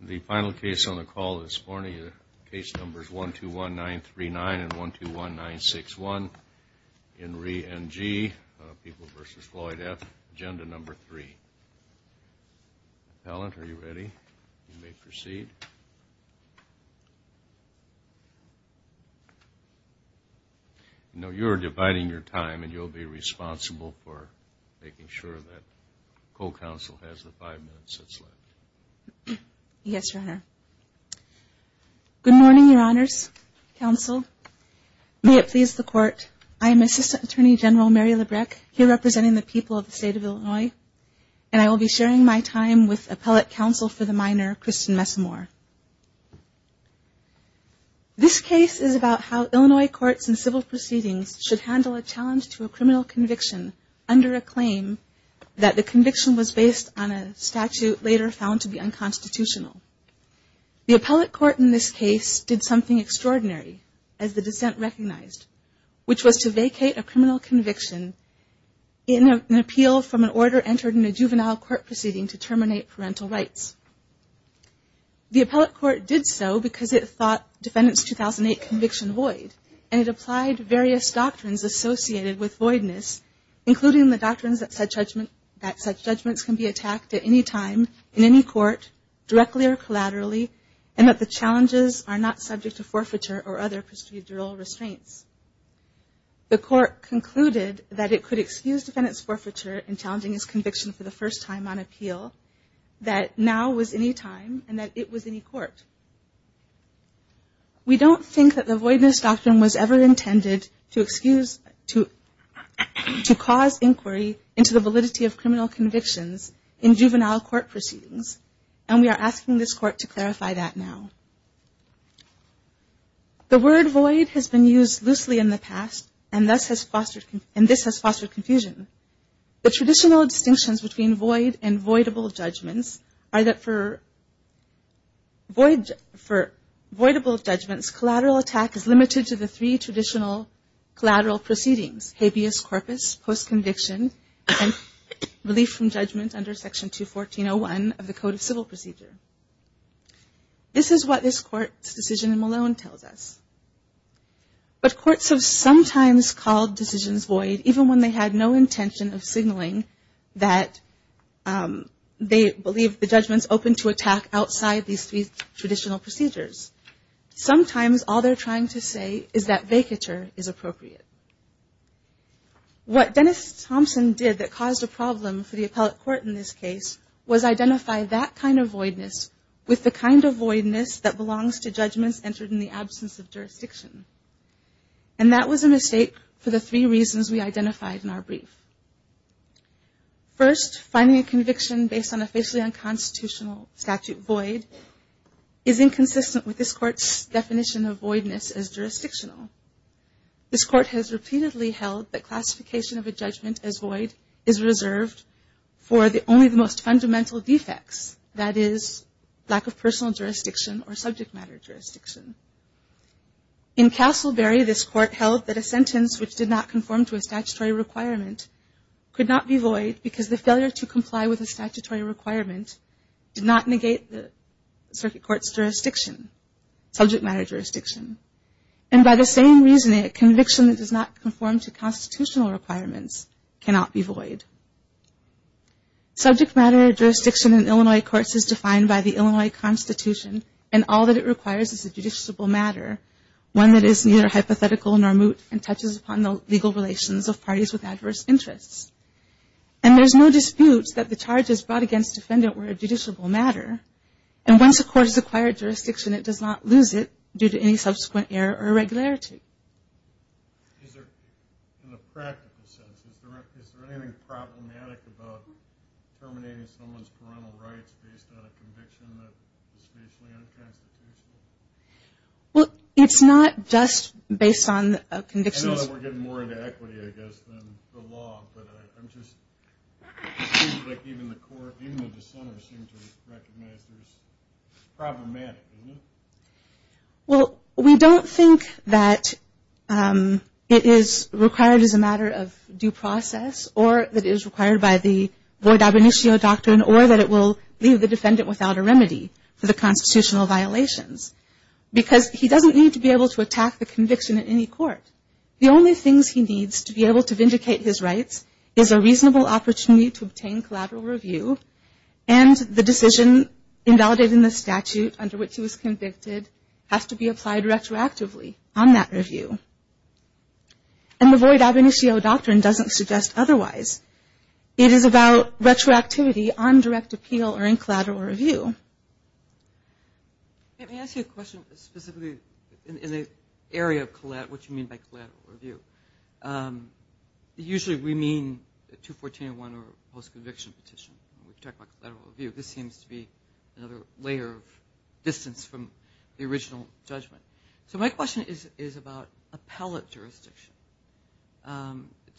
The final case on the call this morning, case numbers 1 2 1 9 3 9 and 1 2 1 9 6 1 in re N.G. People versus Floyd F. Agenda number 3. Appellant, are you ready? You may proceed. Now you're dividing your time and you'll be responsible for making sure that five minutes is left. Yes, Your Honor. Good morning, Your Honors. Counsel, may it please the court. I am Assistant Attorney General Mary Lebrecq, here representing the people of the state of Illinois, and I will be sharing my time with Appellate Counsel for the Minor Kristen Messamore. This case is about how Illinois courts and civil proceedings should handle a challenge to a criminal conviction under a claim that the conviction was based on a statute later found to be unconstitutional. The appellate court in this case did something extraordinary, as the dissent recognized, which was to vacate a criminal conviction in an appeal from an order entered in a juvenile court proceeding to terminate parental rights. The appellate court did so because it thought Defendant's 2008 conviction void, and it applied various doctrines associated with voidness, including the doctrines that said judgments can be attacked at any time, in any court, directly or collaterally, and that the challenges are not subject to forfeiture or other procedural restraints. The court concluded that it could excuse Defendant's forfeiture in challenging his conviction for the first time on appeal, that now was any time, and that it was any court. We don't think that the voidness doctrine was ever intended to excuse, to cause inquiry into the validity of criminal convictions in juvenile court proceedings, and we are asking this court to clarify that now. The word void has been used loosely in the past, and this has fostered confusion. The traditional distinctions between void and voidable judgments are that for voidable judgments, collateral attack is limited to the three traditional collateral proceedings, habeas corpus, post-conviction, and relief from judgment under Section 214.01 of the Code of Civil Procedure. This is what this court's decision in Malone tells us. But courts have sometimes called decisions void even when they had no intention of signaling that they believe the times all they're trying to say is that vacature is appropriate. What Dennis Thompson did that caused a problem for the appellate court in this case was identify that kind of voidness with the kind of voidness that belongs to judgments entered in the absence of jurisdiction. And that was a mistake for the three reasons we identified in our brief. First, finding a conviction based on a facially unconstitutional statute void is inconsistent with this court's definition of voidness as jurisdictional. This court has repeatedly held that classification of a judgment as void is reserved for only the most fundamental defects, that is, lack of personal jurisdiction or subject matter jurisdiction. In Castleberry, this court held that a sentence which did not conform to a statutory requirement could not be void because the failure to comply with a statutory requirement did not negate the circuit court's jurisdiction. Subject matter jurisdiction. And by the same reasoning, a conviction that does not conform to constitutional requirements cannot be void. Subject matter jurisdiction in Illinois courts is defined by the Illinois Constitution and all that it requires is a judiciable matter, one that is neither hypothetical nor moot and touches upon the legal relations of parties with adverse interests. And there's no dispute that the charges brought against defendant were a judiciable matter. And once a court has acquired jurisdiction, it does not lose it due to any subsequent error or irregularity. Is there, in a practical sense, is there anything problematic about terminating someone's parental rights based on a conviction that is facially unconstitutional? Well, it's not just based on convictions... I know that we're getting more into equity, I guess, than the law, but I'm just... It seems like even the court, even the dissenters seem to recognize there's... It's problematic, isn't it? Well, we don't think that it is required as a matter of due process or that it is required by the void ab initio doctrine or that it will leave the defendant without a remedy for the constitutional violations. Because he doesn't need to be able to attack the conviction in any court. The only things he needs to be able to vindicate his rights is a reasonable opportunity to obtain collateral review. And the decision invalidated in the statute under which he was convicted has to be applied retroactively on that review. And the void ab initio doctrine doesn't suggest otherwise. It is about retroactivity on direct appeal or in collateral review. Let me ask you a question specifically in the area of what you mean by collateral review. Usually we mean a 214-1 or a post-conviction petition. When we talk about collateral review, this seems to be another layer of distance from the original judgment. So my question is about appellate jurisdiction.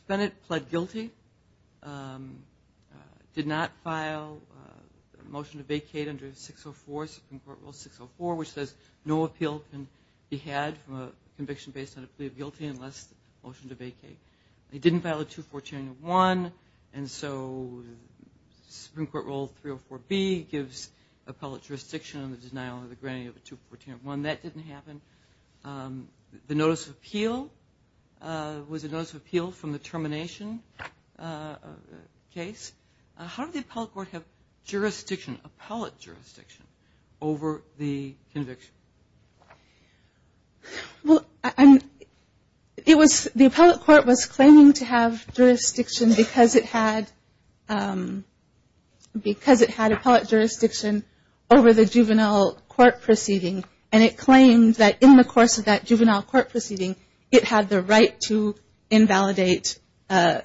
Bennett pled guilty, did not file a motion to vacate under 604, Supreme Court Rule 604, which says no appeal can be had from a conviction based on a plea of guilty unless a motion to vacate. He didn't file a 214-1, and so Supreme Court Rule 304B gives appellate jurisdiction on the denial or the granting of a 214-1. That didn't happen. The notice of appeal was a notice of appeal from the termination case. How did the appellate court have jurisdiction, appellate jurisdiction, over the conviction? Well, it was the appellate court was claiming to have jurisdiction because it had appellate jurisdiction over the juvenile court proceeding, and it claimed that in the course of that juvenile court proceeding, it had the right to invalidate a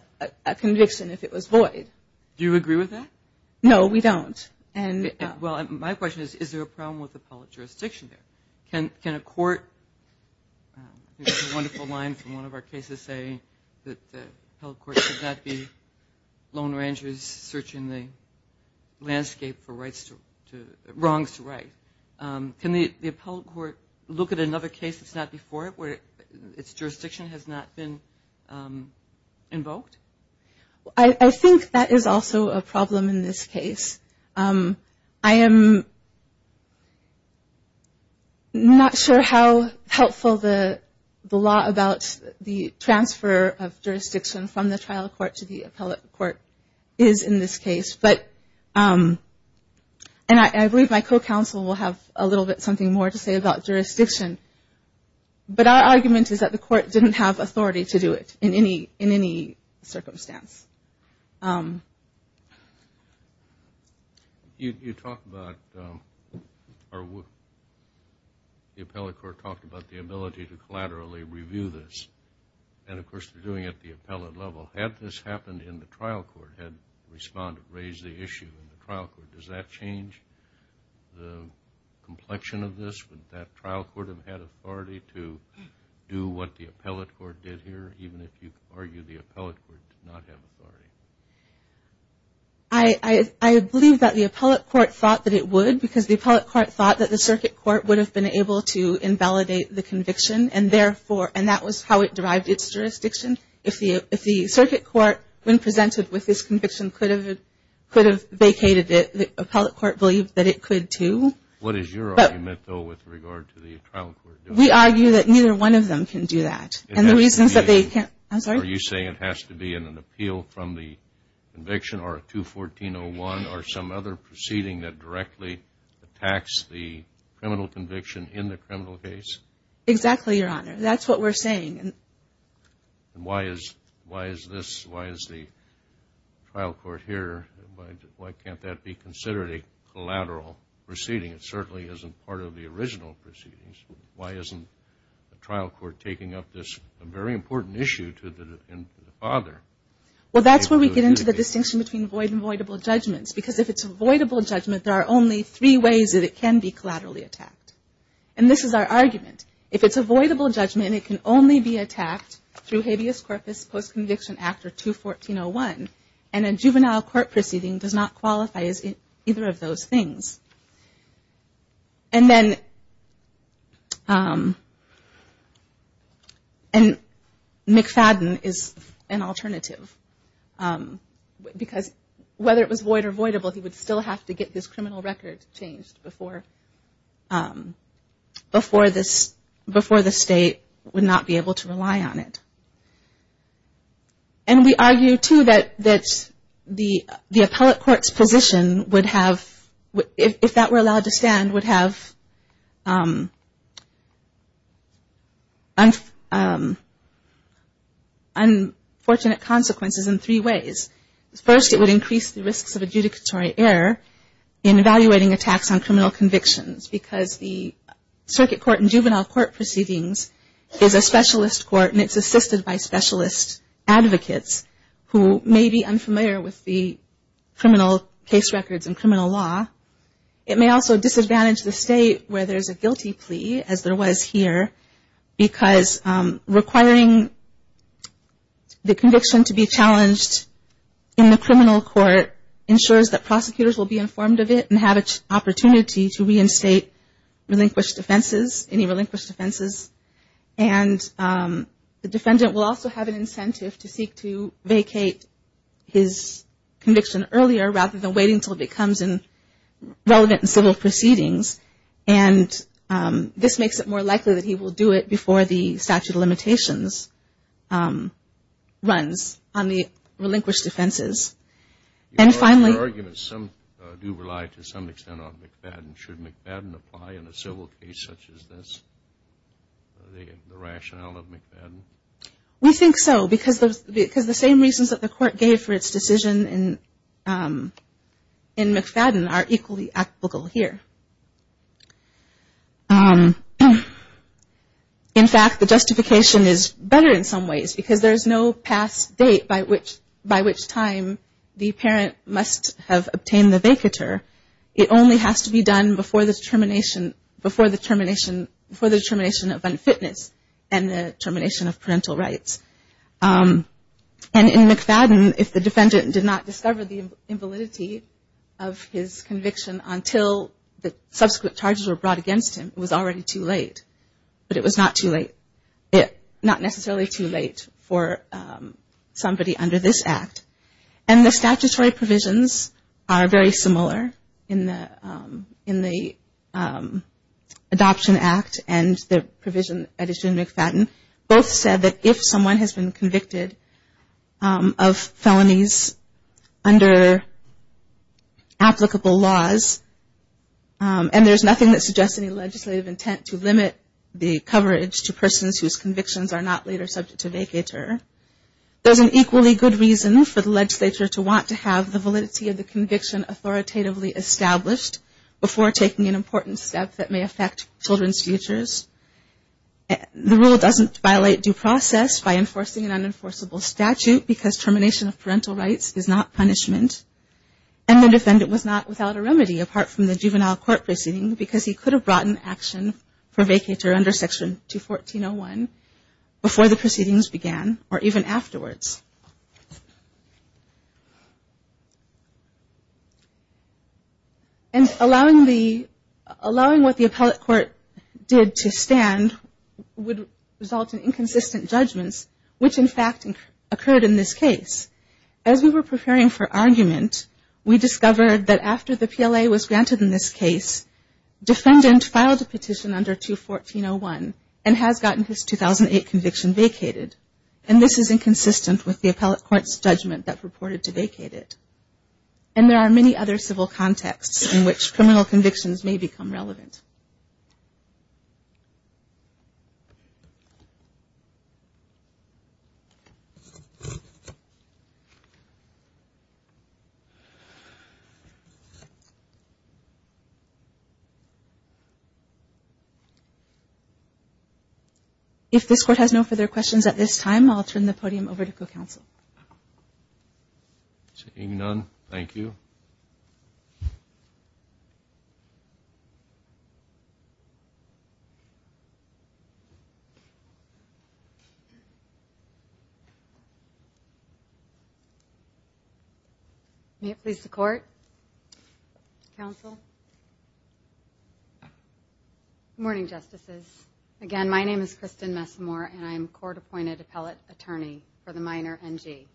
conviction if it was void. Do you agree with that? No, we don't. Well, my question is, is there a problem with appellate jurisdiction there? Can a court, there's a wonderful line from one of our cases saying that the appellate court should not be lone rangers searching the landscape for wrongs to right. Can the appellate court look at another case that's not before it where its jurisdiction has not been invoked? I think that is also a problem in this case. I am not sure how helpful the law about the transfer of jurisdiction from the trial court to the appellate court is in this case, but, and I believe my co-counsel will have a little bit something more to say about jurisdiction, but our argument is that the court didn't have authority to do it in any circumstance. You talk about, the appellate court talked about the ability to collaterally review this, and of course they're doing it at the appellate level. Had this happened in the trial court, had the respondent raised the issue in the trial court, does that change the complexion of this? Would that trial court have had authority to do what the appellate court did here, even if you argue the appellate court did not have authority? I believe that the appellate court thought that it would, because the appellate court thought that the circuit court would have been able to invalidate the conviction, and that was how it derived its jurisdiction. If the circuit court, when presented with this conviction, could have vacated it, the appellate court believed that it could too. What is your argument, though, with regard to the trial court? We argue that neither one of them can do that. Are you saying it has to be an appeal from the conviction, or a 214-01, or some other proceeding that directly attacks the criminal conviction in the criminal case? Exactly, Your Honor. That's what we're saying. And why is this, why is the trial court here, why can't that be considered a collateral proceeding? It certainly isn't part of the original proceedings. Why isn't the trial court taking up this very important issue to the father? Well, that's where we get into the distinction between void and voidable judgments, because if it's a voidable judgment, there are only three ways that it can be collaterally attacked. And this is our argument. If it's a voidable judgment, it can only be attacked through habeas corpus post-conviction after 214-01. And a juvenile court proceeding does not qualify as either of those things. And McFadden is an alternative, because whether it was void or voidable, he would still have to get his criminal record changed before the state would not be able to rely on it. And we argue, too, that the appellate court's position would have, if that were allowed to stand, would have unfortunate consequences in three ways. First, it would increase the risks of adjudicatory error in evaluating attacks on criminal convictions, because the circuit court and juvenile court proceedings is a specialist court and it's assisted by specialist advocates who may be unfamiliar with the criminal case records and criminal law. It may also disadvantage the state where there's a guilty plea, as there was here, because requiring the conviction to be challenged in the criminal court ensures that prosecutors will be informed of it and have an opportunity to reinstate relinquished offenses, any relinquished offenses. And the defendant will also have an incentive to seek to vacate his conviction earlier, rather than waiting until it becomes relevant in civil proceedings. And this makes it more likely that he will do it before the statute of limitations runs on the relinquished offenses. And finally... Your arguments do rely to some extent on McFadden. Should McFadden apply in a civil case such as this? Is that the rationale of McFadden? We think so, because the same reasons that the court gave for its decision in McFadden are equally applicable here. In fact, the justification is better in some ways, because there's no past date by which time the parent must have obtained the vacatur. It only has to be done before the termination of unfitness and the termination of parental rights. And in McFadden, if the defendant did not discover the invalidity of his conviction until the subsequent charges were brought against him, it was already too late. But it was not necessarily too late for somebody under this Act. And the statutory provisions are very similar in the Adoption Act and the provision that is in McFadden. Both said that if someone has been convicted of felonies under applicable laws, and there's nothing that suggests any legislative intent to limit the coverage to persons whose convictions are not later subject to vacatur, there's an equally good reason for the legislature to want to have the validity of the conviction authoritatively established before taking an important step that may affect children's futures. The rule doesn't violate due process by enforcing an unenforceable statute, because termination of parental rights is not punishment. And the defendant was not without a remedy apart from the juvenile court proceeding, because he could have brought an action for vacatur under Section 214.01 before the proceedings began or even afterwards. And allowing what the appellate court did to stand would result in inconsistent judgments, which in fact occurred in this case. As we were preparing for argument, we discovered that after the PLA was granted in this case, defendant filed a petition under 214.01 and has gotten his 2008 conviction vacated. And this is inconsistent with the appellate court's judgment that purported to vacate it. And there are many other civil contexts in which criminal convictions may become relevant. If this court has no further questions at this time, I'll turn the podium over to co-counsel. Seeing none, thank you. Thank you. May it please the Court? Counsel? Good morning, Justices. Again, my name is Kristen Messamore, and I'm a court-appointed appellate attorney for the minor NG.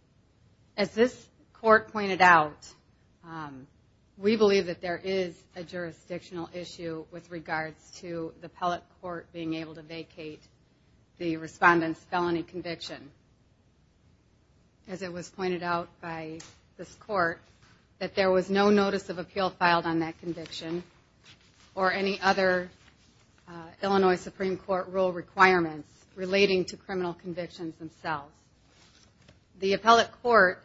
As this court pointed out, we believe that there is a jurisdictional issue with regards to the appellate court being able to vacate the respondent's felony conviction. As it was pointed out by this court, that there was no notice of appeal filed on that conviction or any other Illinois Supreme Court rule requirements relating to criminal convictions themselves. The appellate court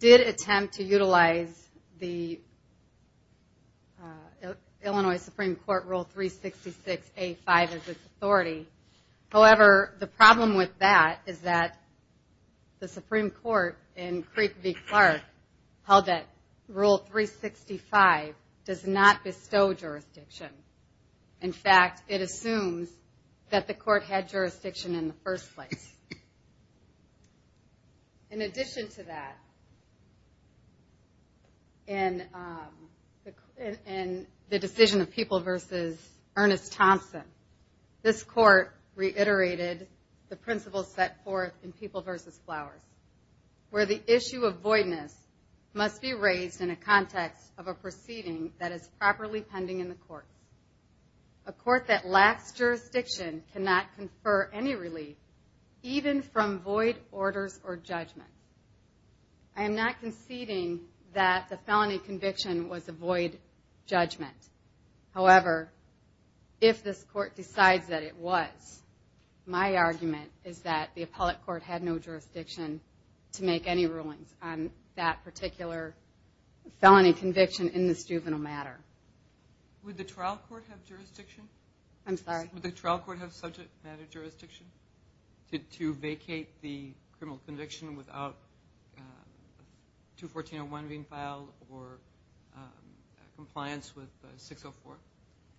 did attempt to utilize the Illinois Supreme Court rule 366A5 as its authority. However, the problem with that is that the Supreme Court in Creek v. Clark held that rule 365 does not bestow jurisdiction. In fact, it assumes that the court had jurisdiction in the first place. In addition to that, in the decision of People v. Ernest Thompson, this court reiterated the principles set forth in People v. Flowers where the issue of voidness must be raised in a context of a proceeding that is properly pending in the court. A court that lacks jurisdiction cannot confer any relief even from void orders or judgment. I am not conceding that the felony conviction was a void judgment. However, if this court decides that it was, my argument is that the appellate court had no jurisdiction to make any rulings on that particular felony conviction in this juvenile matter. Would the trial court have jurisdiction to vacate the criminal conviction without 214.01 being filed or compliance with 604?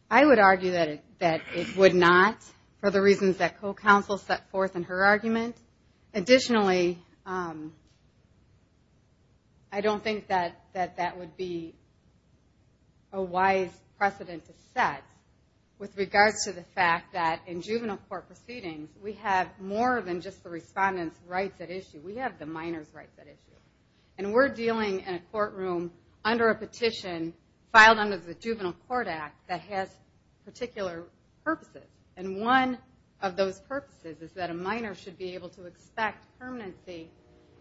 I would argue that it would not for the reasons that co-counsel set forth in her argument. Additionally, I don't think that that would be a wise precedent to set with regards to the fact that in juvenile court proceedings we have more than just the respondent's rights at issue. We have the minor's rights at issue. We're dealing in a courtroom under a petition filed under the Juvenile Court Act that has particular purposes. One of those purposes is that a minor should be able to expect permanency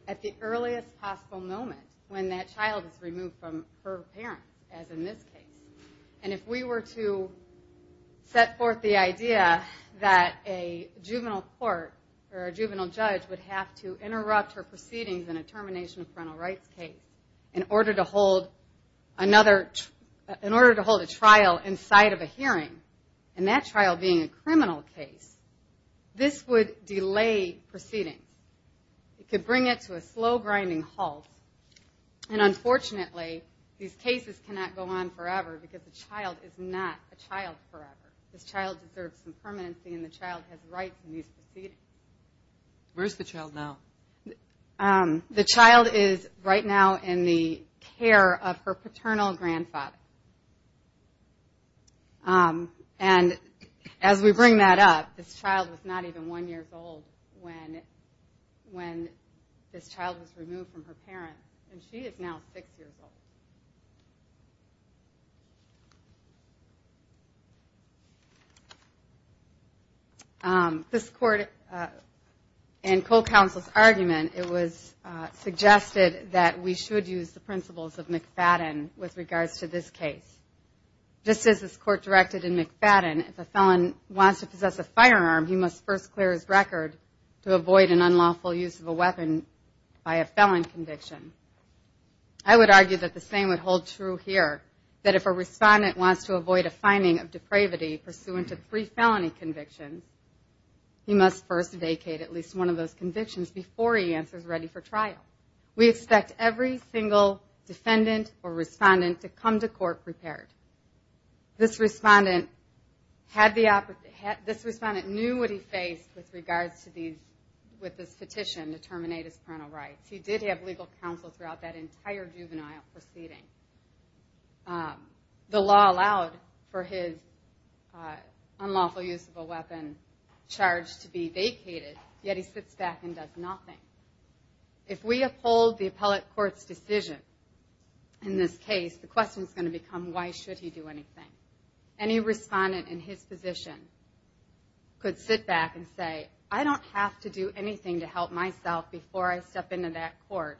at the earliest possible moment when that child is removed from her parent as in this case. If we were to set forth the idea that a juvenile court or a juvenile judge would have to interrupt her proceedings in a termination of parental rights case in order to hold a trial inside of a hearing and that trial being a criminal case this would delay proceedings. It could bring it to a slow grinding halt and unfortunately these cases cannot go on forever because the child is not a child forever. This child deserves some permanency and the child has rights in these proceedings. Where is the child now? The child is right now in the care of her paternal grandfather. As we bring that up this child was not even one year old when this child was removed from her parents and she is now six years old. This court and co-counsel's argument suggested that we should use the principles of McFadden with regards to this case. Just as this court directed in McFadden if a felon wants to possess a firearm he must first clear his record to avoid an unlawful use of a weapon by a felon conviction. I would argue that the same would hold true here that if a respondent wants to avoid a finding of depravity pursuant to three felony convictions he must first vacate at least one of those convictions before he answers ready for trial. We expect every single defendant or respondent to come to court prepared. This respondent knew what he faced with regards to this petition to terminate his parental rights. He did have legal counsel throughout that entire juvenile proceeding. The law allowed for his unlawful use of a weapon charged to be vacated yet he sits back and does nothing. If we uphold the appellate court's decision in this case the question is going to become why should he do anything? Any respondent in his position could sit back and say I don't have to do anything to help myself before I step into that court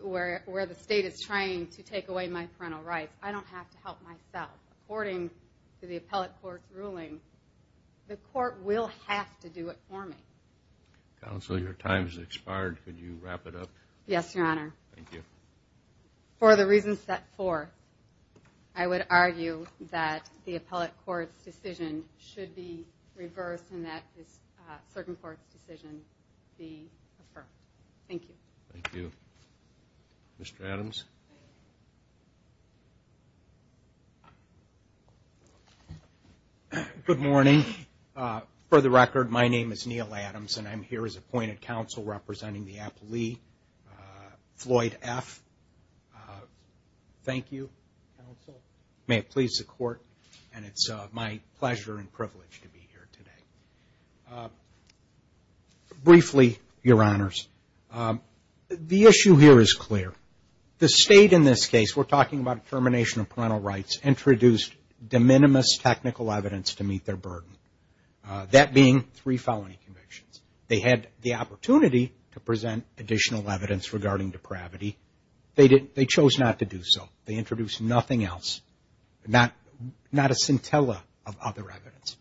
where the state is trying to take away my parental rights. I don't have to help myself. According to the appellate court's ruling the court will have to do it for me. Counsel, your time has expired. Could you wrap it up? Yes, your honor. For the reasons set forth I would argue that the appellate court's decision should be deferred. Thank you. Thank you. Mr. Adams? Good morning. For the record my name is Neil Adams and I'm here as appointed counsel representing the appellee Floyd F. Thank you counsel. May it please the court. It's my pleasure and privilege to be here today. Briefly, your honors the issue here is clear. The state in this case, we're talking about termination of parental rights, introduced de minimis technical evidence to meet their burden. That being three felony convictions. They had the opportunity to present additional evidence regarding depravity. They chose not to do so. They introduced nothing else. Not a scintilla of other evidence.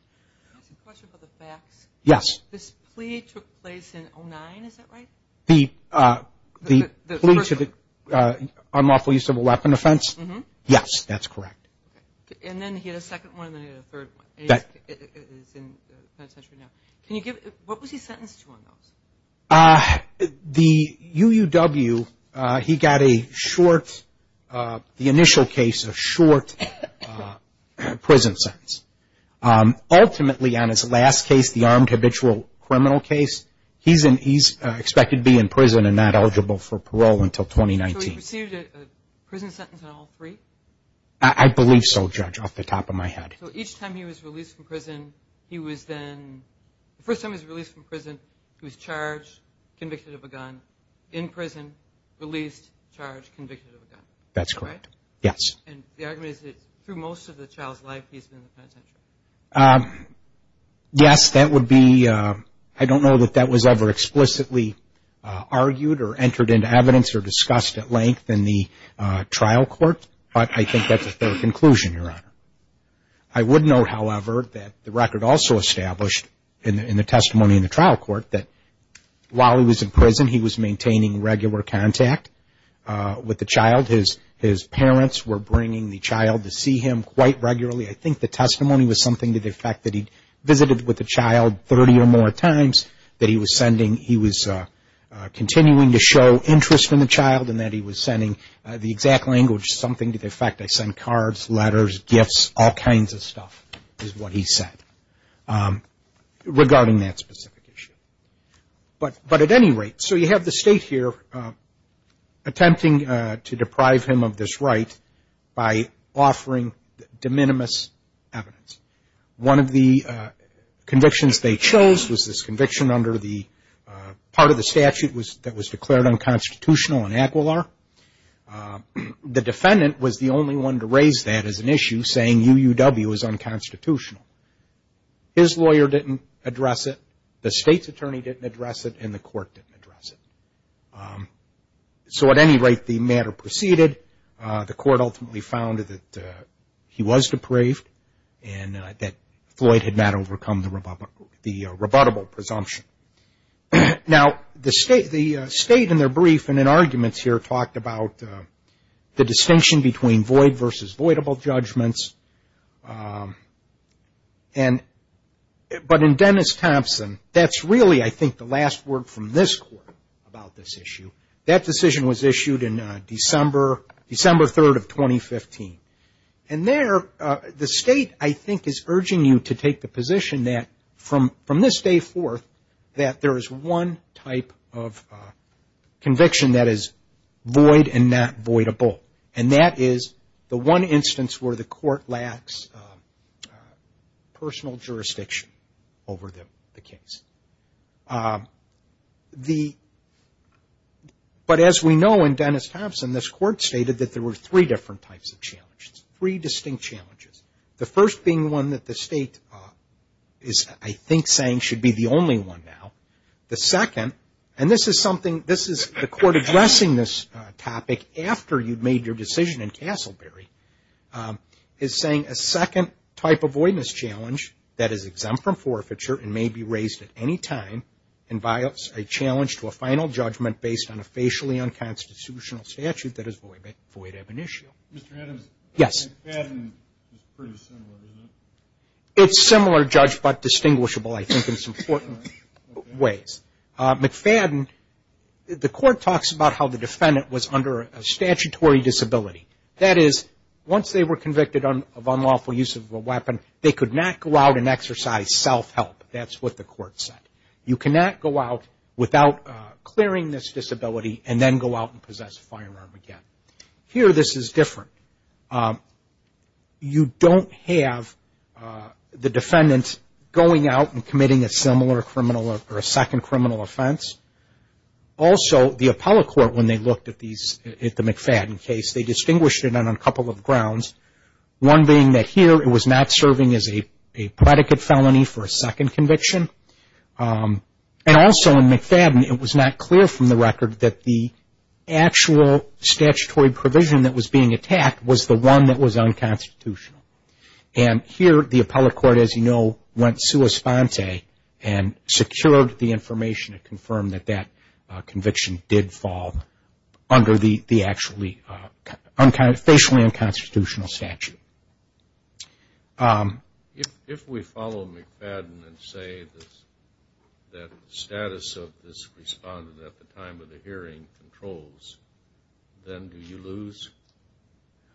Can I ask a question about the facts? Yes. This plea took place in 2009, is that right? The plea to the unlawful use of a weapon offense? Yes, that's correct. And then he had a second one and then he had a third one. Can you give what was he sentenced to on those? The UUW, he got a short the initial case, a short prison sentence. Ultimately, on his last case, the armed habitual criminal case he's expected to be in prison and not eligible for parole until 2019. Prison sentence on all three? I believe so, Judge, off the top of my head. Each time he was released from prison, he was then charged, convicted of a gun in prison, released, charged, convicted of a gun. That's correct. Yes. Through most of the child's life, he's been in the penitentiary? Yes, that would be I don't know that that was ever explicitly argued or entered into evidence or discussed at length in the trial court, but I think that's a fair conclusion, Your Honor. I would know, however, that the record also established in the testimony in the trial court that while he was in prison, he was maintaining regular contact with the child. His parents were bringing the child to see him quite regularly. I think the testimony was something to the effect that he visited with the child 30 or more times that he was continuing to show interest in the child and that he was sending the exact language, something to the effect, I send cards, letters, gifts all kinds of stuff is what he said regarding that specific issue. But at any rate, so you have the state here attempting to deprive him of this right by offering de minimis evidence. One of the convictions they chose was this conviction under the part of the statute that was declared unconstitutional in Aquilar. The defendant was the only one to raise that as an issue saying UUW is unconstitutional. His lawyer didn't address it, the state's attorney didn't address it, and the court didn't address it. So at any rate, the matter proceeded. The court ultimately found that he was depraved and that Floyd had not overcome the rebuttable presumption. Now, the state in their brief and in arguments here talked about the distinction between void versus voidable judgments but in Dennis Thompson that's really, I think, the last word from this court about this issue. That decision was issued in December 3rd of 2015. And there, the state, I think, is urging you to take the position that from this day forth that there is one type of voidable and that is the one instance where the court lacks personal jurisdiction over the case. The but as we know in Dennis Thompson, this court stated that there were three different types of challenges. Three distinct challenges. The first being one that the state is, I think, saying should be the only one now. The second, and this is something the court addressing this topic after you've made your decision in Castleberry is saying a second type of voidness challenge that is exempt from forfeiture and may be raised at any time invites a challenge to a final judgment based on a facially unconstitutional statute that is void ab initio. It's similar judge but distinguishable, I think, in some important ways. McFadden, the court talks about how the defendant was under a statutory disability. That is, once they were convicted of unlawful use of a weapon, they could not go out and exercise self-help. That's what the court said. You cannot go out without clearing this disability and then go out and possess a firearm again. Here, this is different. You don't have the defendant going out and committing a similar criminal or a second criminal offense. Also, the appellate court, when they looked at the McFadden case, they distinguished it on a couple of grounds. One being that here it was not serving as a predicate felony for a second conviction and also in McFadden it was not clear from the record that the actual statutory provision that was being attacked was the one that was unconstitutional. Here, the appellate court, as you know, went sua sponte and secured the information to confirm that that conviction did fall under the actually facially unconstitutional statute. If we follow McFadden and say that the status of this respondent at the time of the hearing controls, then do you lose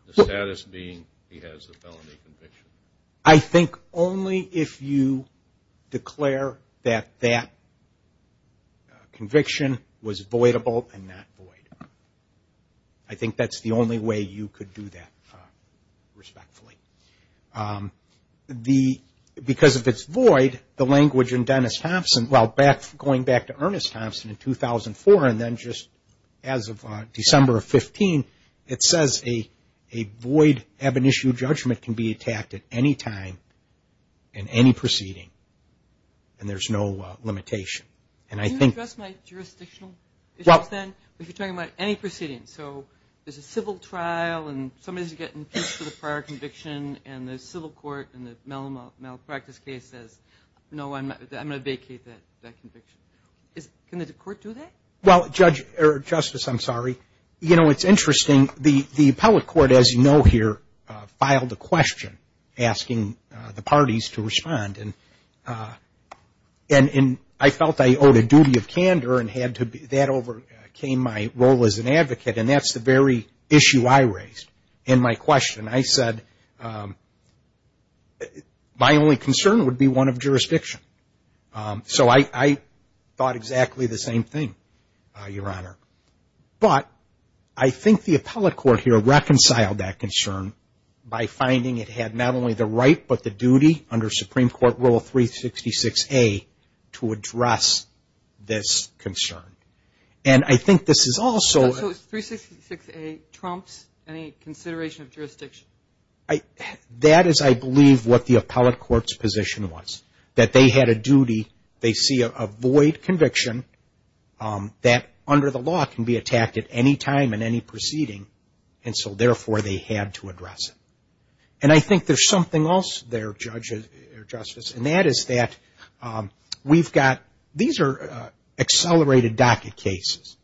the status being he has a felony conviction? I think only if you declare that that conviction was voidable and not void. I think that's the only way you could do that respectfully. Because of its void, the language in Dennis Thompson, going back to Ernest Thompson in 2004 and then just as of December of 2015, it says a void ab initio judgment can be attacked at any time in any proceeding and there's no limitation. Can you address my jurisdictional issues then? If you're talking about any proceeding, so there's a civil trial and somebody has to get impeached for the prior conviction and the civil court in the malpractice case says no, I'm going to vacate that conviction. Can the court do that? Justice, I'm sorry. It's interesting. The appellate court, as you know here, filed a question asking the parties to respond and I felt I owed a duty of candor and that overcame my role as an advocate and that's the very issue I raised in my question. I said my only concern would be one of jurisdiction. So I thought exactly the same thing, Your Honor. But I think the appellate court here reconciled that concern by finding it had not only the right but the duty under Supreme Court Rule 366A to address this concern. And I think this is also... So 366A trumps any consideration of jurisdiction? That is, I believe, what the appellate court's position was. That they had a duty they see a void conviction that under the law can be attacked at any time in any proceeding and so therefore they had to address it. And I think there's something else there, Justice, and that is that we've got... These are accelerated docket cases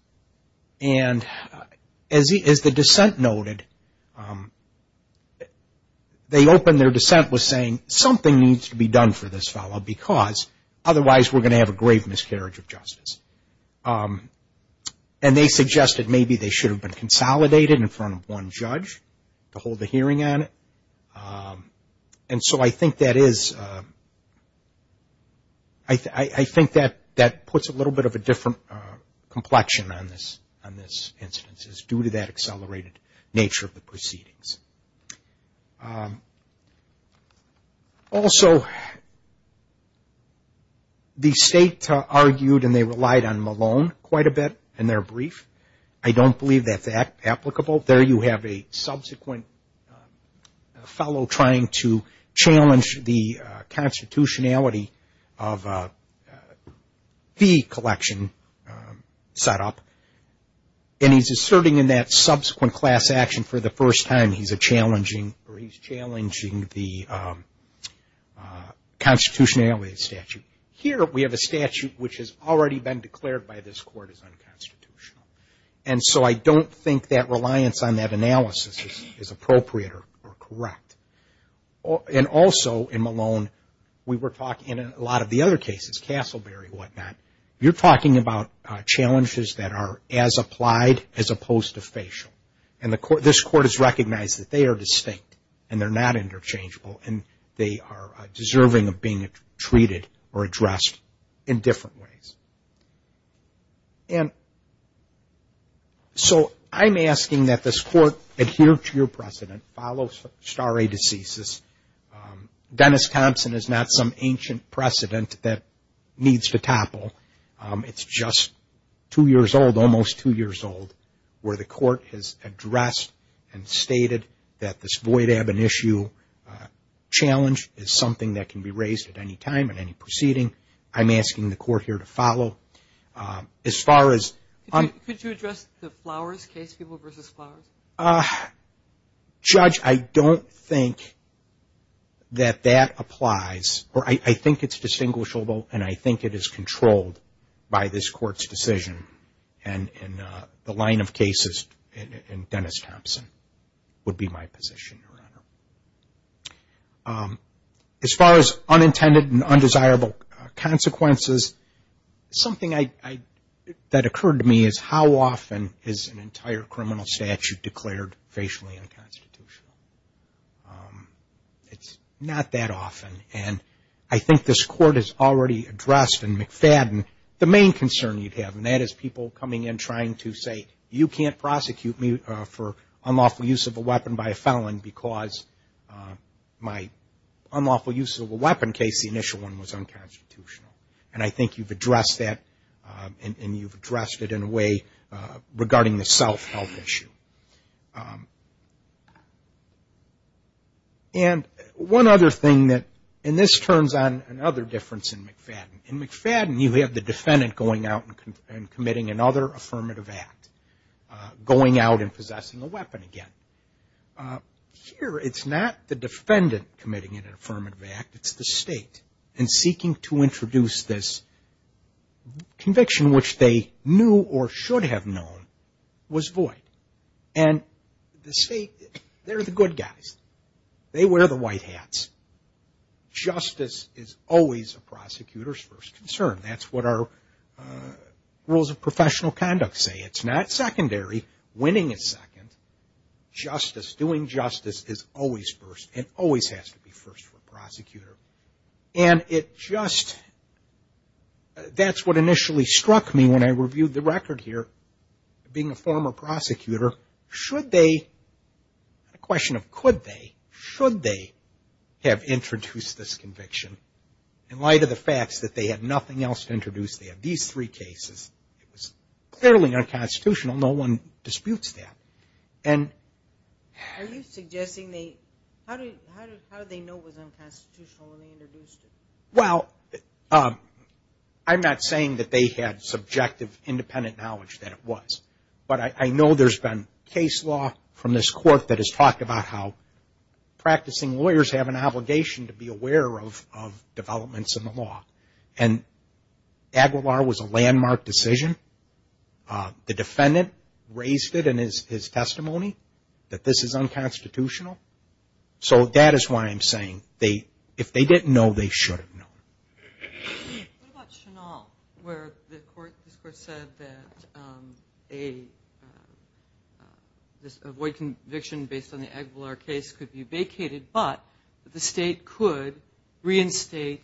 and as the dissent noted, they opened their dissent with saying something needs to be done for this fellow because otherwise we're gonna have a grave miscarriage of justice. And they suggested maybe they should have been consolidated in front of one judge to hold a hearing on it. And so I think that is I think that puts a little bit of a different complexion on this instance due to that accelerated nature of the proceedings. Also the state argued and they relied on Malone quite a bit in their brief. I don't believe that's applicable. There you have a subsequent fellow trying to challenge the constitutionality of the collection set up and he's asserting in that subsequent class action for the first time he's challenging the constitutionality of the statute. Here we have a statute which has already been declared by this court as unconstitutional. And so I don't think that reliance on that analysis is appropriate or correct. And also in we were talking in a lot of the other cases Castleberry and what not. You're talking about challenges that are as applied as opposed to facial. And this court has recognized that they are distinct and they're not interchangeable and they are deserving of being treated or addressed in different ways. So I'm asking that this court adhere to your precedent, follow star A diseases. Dennis Thompson is not some ancient precedent that needs to topple. It's just two years old almost two years old where the court has addressed and stated that this void ab initio challenge is something that can be raised at any time in any proceeding. I'm asking the court here to follow. Could you address the Flowers case? Judge, I don't think that that applies or I think it's distinguishable and I think it is controlled by this court's decision and the line of cases in Dennis Thompson would be my position. As far as unintended and undesirable consequences something that occurred to me is how often is an entire criminal statute declared facially unconstitutional? It's not that often and I think this court has already addressed and McFadden the main concern you'd have and that is people coming in trying to say you can't prosecute me for unlawful use of a weapon by a felon because my unlawful use of a weapon case, the initial one, was unconstitutional. And I think you've addressed that and you've addressed it in a way regarding the self-help issue. And one other thing, and this turns on another difference in McFadden. In McFadden you have the defendant going out and committing another affirmative act, going out and possessing a weapon again. Here it's not the defendant committing an affirmative act, it's the state and seeking to introduce this conviction which they knew or should have known was void. And the state, they're the good guys. They wear the white hats. Justice is always a prosecutor's first concern. That's what our rules of professional conduct say. It's not secondary. Winning is second. Justice, doing justice is always first and always has to be first for a prosecutor. And it just, that's what initially struck me when I reviewed the record here. Being a former prosecutor, should they, not a question of could they, should they have introduced this conviction in light of the facts that they had nothing else to introduce. They had these three cases. It was clearly unconstitutional. No one disputes that. Are you suggesting they, how did they know it was unconstitutional when they introduced it? Well, I'm not saying that they had subjective independent knowledge that it was. But I know there's been case law from this court that has talked about how practicing lawyers have an obligation to be aware of developments landmark decision. The defendant raised it in his testimony that this is unconstitutional. So that is why I'm saying if they didn't know, they should have known. What about Chenal where this court said that a void conviction based on the Aguilar case could be vacated but the state could reinstate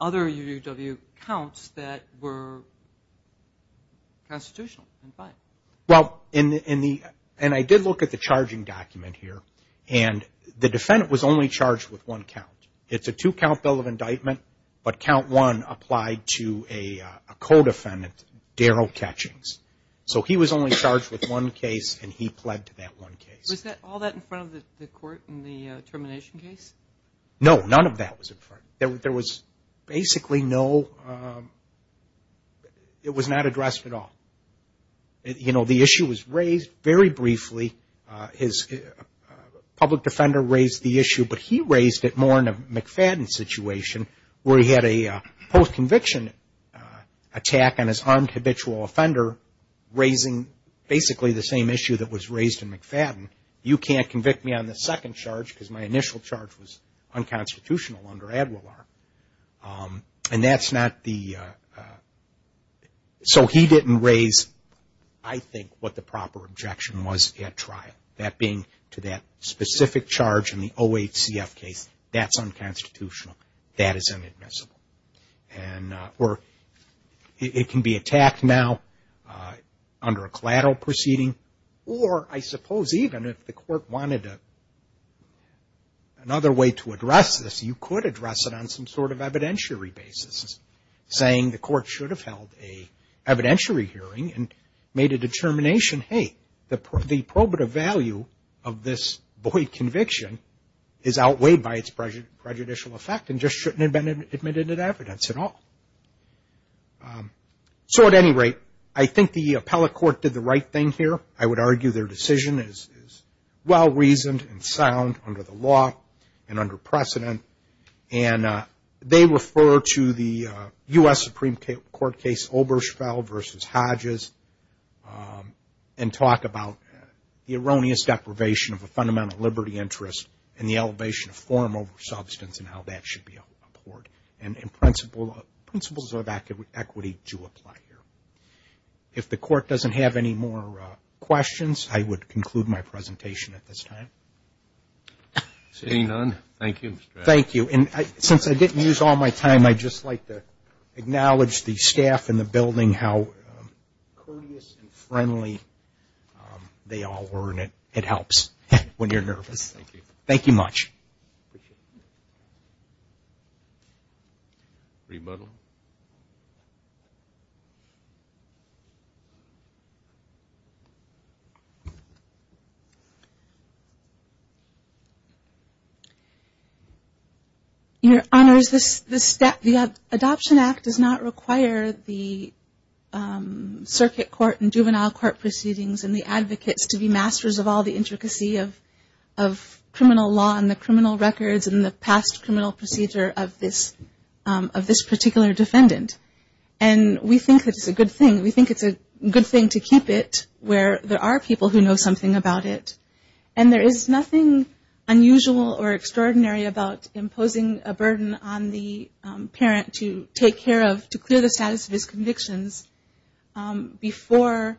other UUW counts that were unconstitutional and fine? And I did look at the charging document here and the defendant was only charged with one count. It's a two count bill of indictment but count one applied to a co-defendant, Darrell Catchings. So he was only charged with one case and he pled to that one case. Was all that in front of the court in the termination case? No, none of that was in front. There was basically no it was not addressed at all. The issue was raised very briefly. His public defender raised the issue but he raised it more in a McFadden situation where he had a post conviction attack on his unhabitual offender raising basically the same issue that was raised in McFadden. You can't convict me on the second charge because my initial charge was unconstitutional under Aguilar. And that's not the so he didn't raise I think what the proper objection was at trial. That being to that specific charge in the OHCF case that's unconstitutional. That is inadmissible. And or it can be attacked now under a collateral proceeding or I suppose even if the court wanted another way to address this you could address it on some sort of evidentiary basis saying the court should have held an evidentiary hearing and made a determination hey the probative value of this void conviction is outweighed by its prejudicial effect and just shouldn't have been admitted at evidence at all. So at any rate I think the appellate court did the right thing here. I would argue their decision is well reasoned and sound under the law and under precedent and they refer to the U.S. Supreme Court case Obergefell versus Hodges and talk about the erroneous deprivation of a fundamental liberty interest and the elevation of form over substance and how that should be aborted. And principles of equity do apply here. If the court doesn't have any more questions I would conclude my presentation at this time. Seeing none, thank you. Thank you. And since I didn't use all my time I'd just like to acknowledge the staff in the building how courteous and friendly they all were and it helps when you're nervous. Thank you. Thank you much. Rebuttal. Your Honor, the Adoption Act does not require the circuit court and juvenile court proceedings and the advocates to be masters of all the intricacy of criminal law and the criminal records and the past criminal procedure of this particular defendant. And we think it's a good thing. We think it's a good thing to keep it where there are people who know something about it. And there is nothing unusual or extraordinary about imposing a burden on the parent to take care of, to clear the status of his convictions before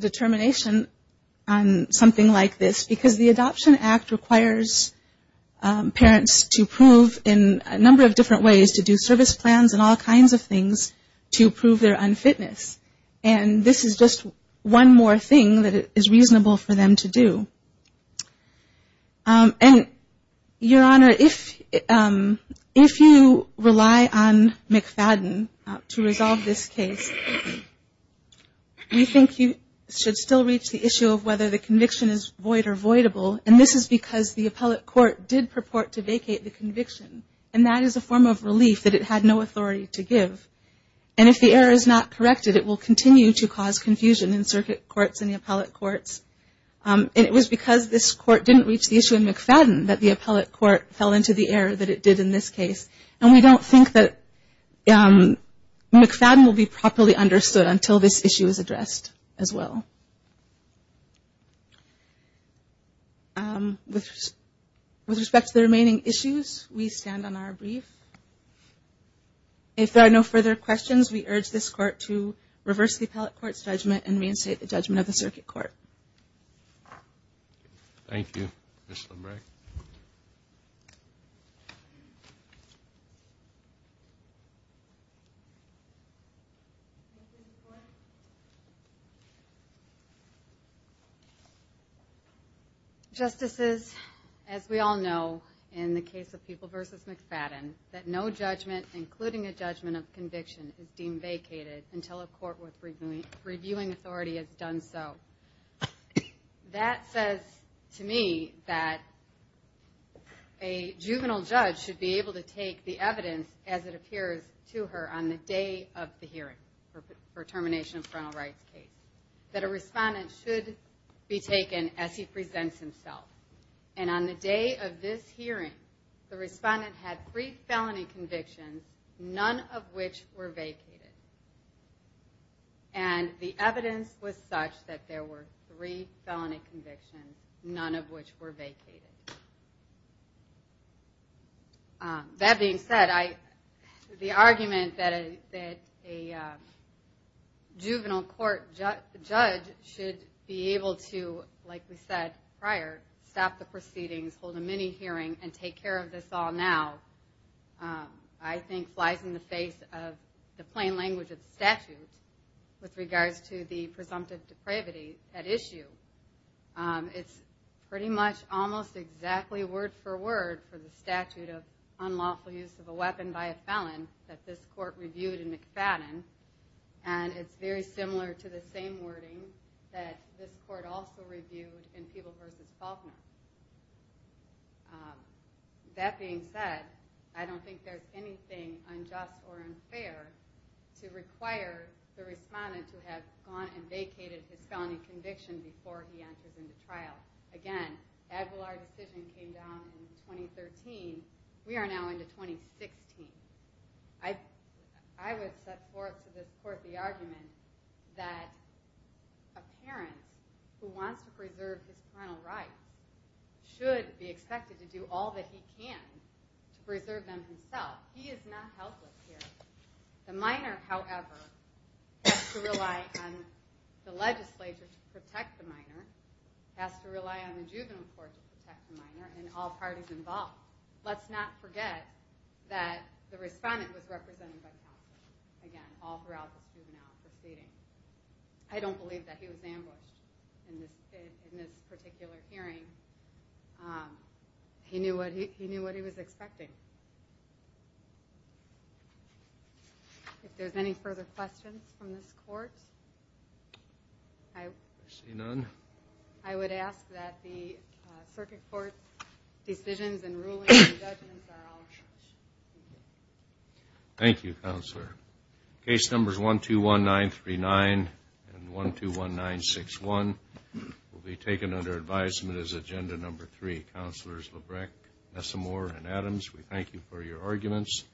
determination on something like this because the Adoption Act requires parents to prove in a number of different ways to do service plans and all kinds of things to prove their unfitness. And this is just one more thing that is reasonable for them to do. Your Honor, if you rely on McFadden to resolve this case we think you should still reach the issue of whether the conviction is void or voidable and this is because the appellate court did purport to vacate the conviction and that is a form of relief that it had no authority to give. And if the error is not corrected it will continue to cause confusion in circuit courts and the appellate courts. And it was because this court didn't reach the issue in McFadden that the appellate court fell into the error that it did in this case. And we don't think that McFadden will be properly understood until this issue is addressed as well. With respect to the remaining issues we stand on our brief. If there are no further questions we urge this court to reverse the appellate court's judgment and reinstate the judgment of the circuit court. Thank you. Ms. Lundbreg. Justices, as we all know in the case of People v. McFadden that no judgment including a judgment of conviction is deemed vacated until a court with reviewing authority has done so. That says to me that a juvenile judge should be able to take the evidence as it appears to her on the day of the hearing for termination of parental rights case. That a respondent should be taken as he presents himself. And on the day of this hearing the respondent had three felony convictions none of which were vacated. And the evidence was such that there were three felony convictions none of which were vacated. That being said the argument that a juvenile court judge should be able to, like we said prior stop the proceedings, hold a mini hearing and take care of this all now, I think flies in the face of the plain language of the statute with regards to the presumptive depravity at issue. It's pretty much almost exactly word for word for the statute of unlawful use of a weapon by a felon that this court reviewed in McFadden and it's very similar to the same wording that this court also reviewed in People v. Faulkner. That being said I don't think there's anything unjust or unfair to require the respondent to have gone and vacated his felony conviction before he enters into trial. Again, Edwillard's decision came down in 2013 we are now into 2016. I would support to this court the argument that a parent who wants to preserve his parental rights should be expected to do all that he can to preserve them himself. He is not helpless here. The minor, however, has to rely on the legislature to protect the minor has to rely on the juvenile court to protect the minor and all parties involved. Let's not forget that the respondent was represented by counsel, again, all throughout the juvenile proceeding. I don't believe that he was ambushed in this particular hearing. He knew what he was expecting. If there's any further questions from this court I would ask that the circuit court decisions and rulings and judgments are all changed. Thank you, Counselor. Case numbers 121939 and 121961 will be taken under advisement as agenda number 3. Counselors Labreck, Messamore and Adams we thank you for your arguments.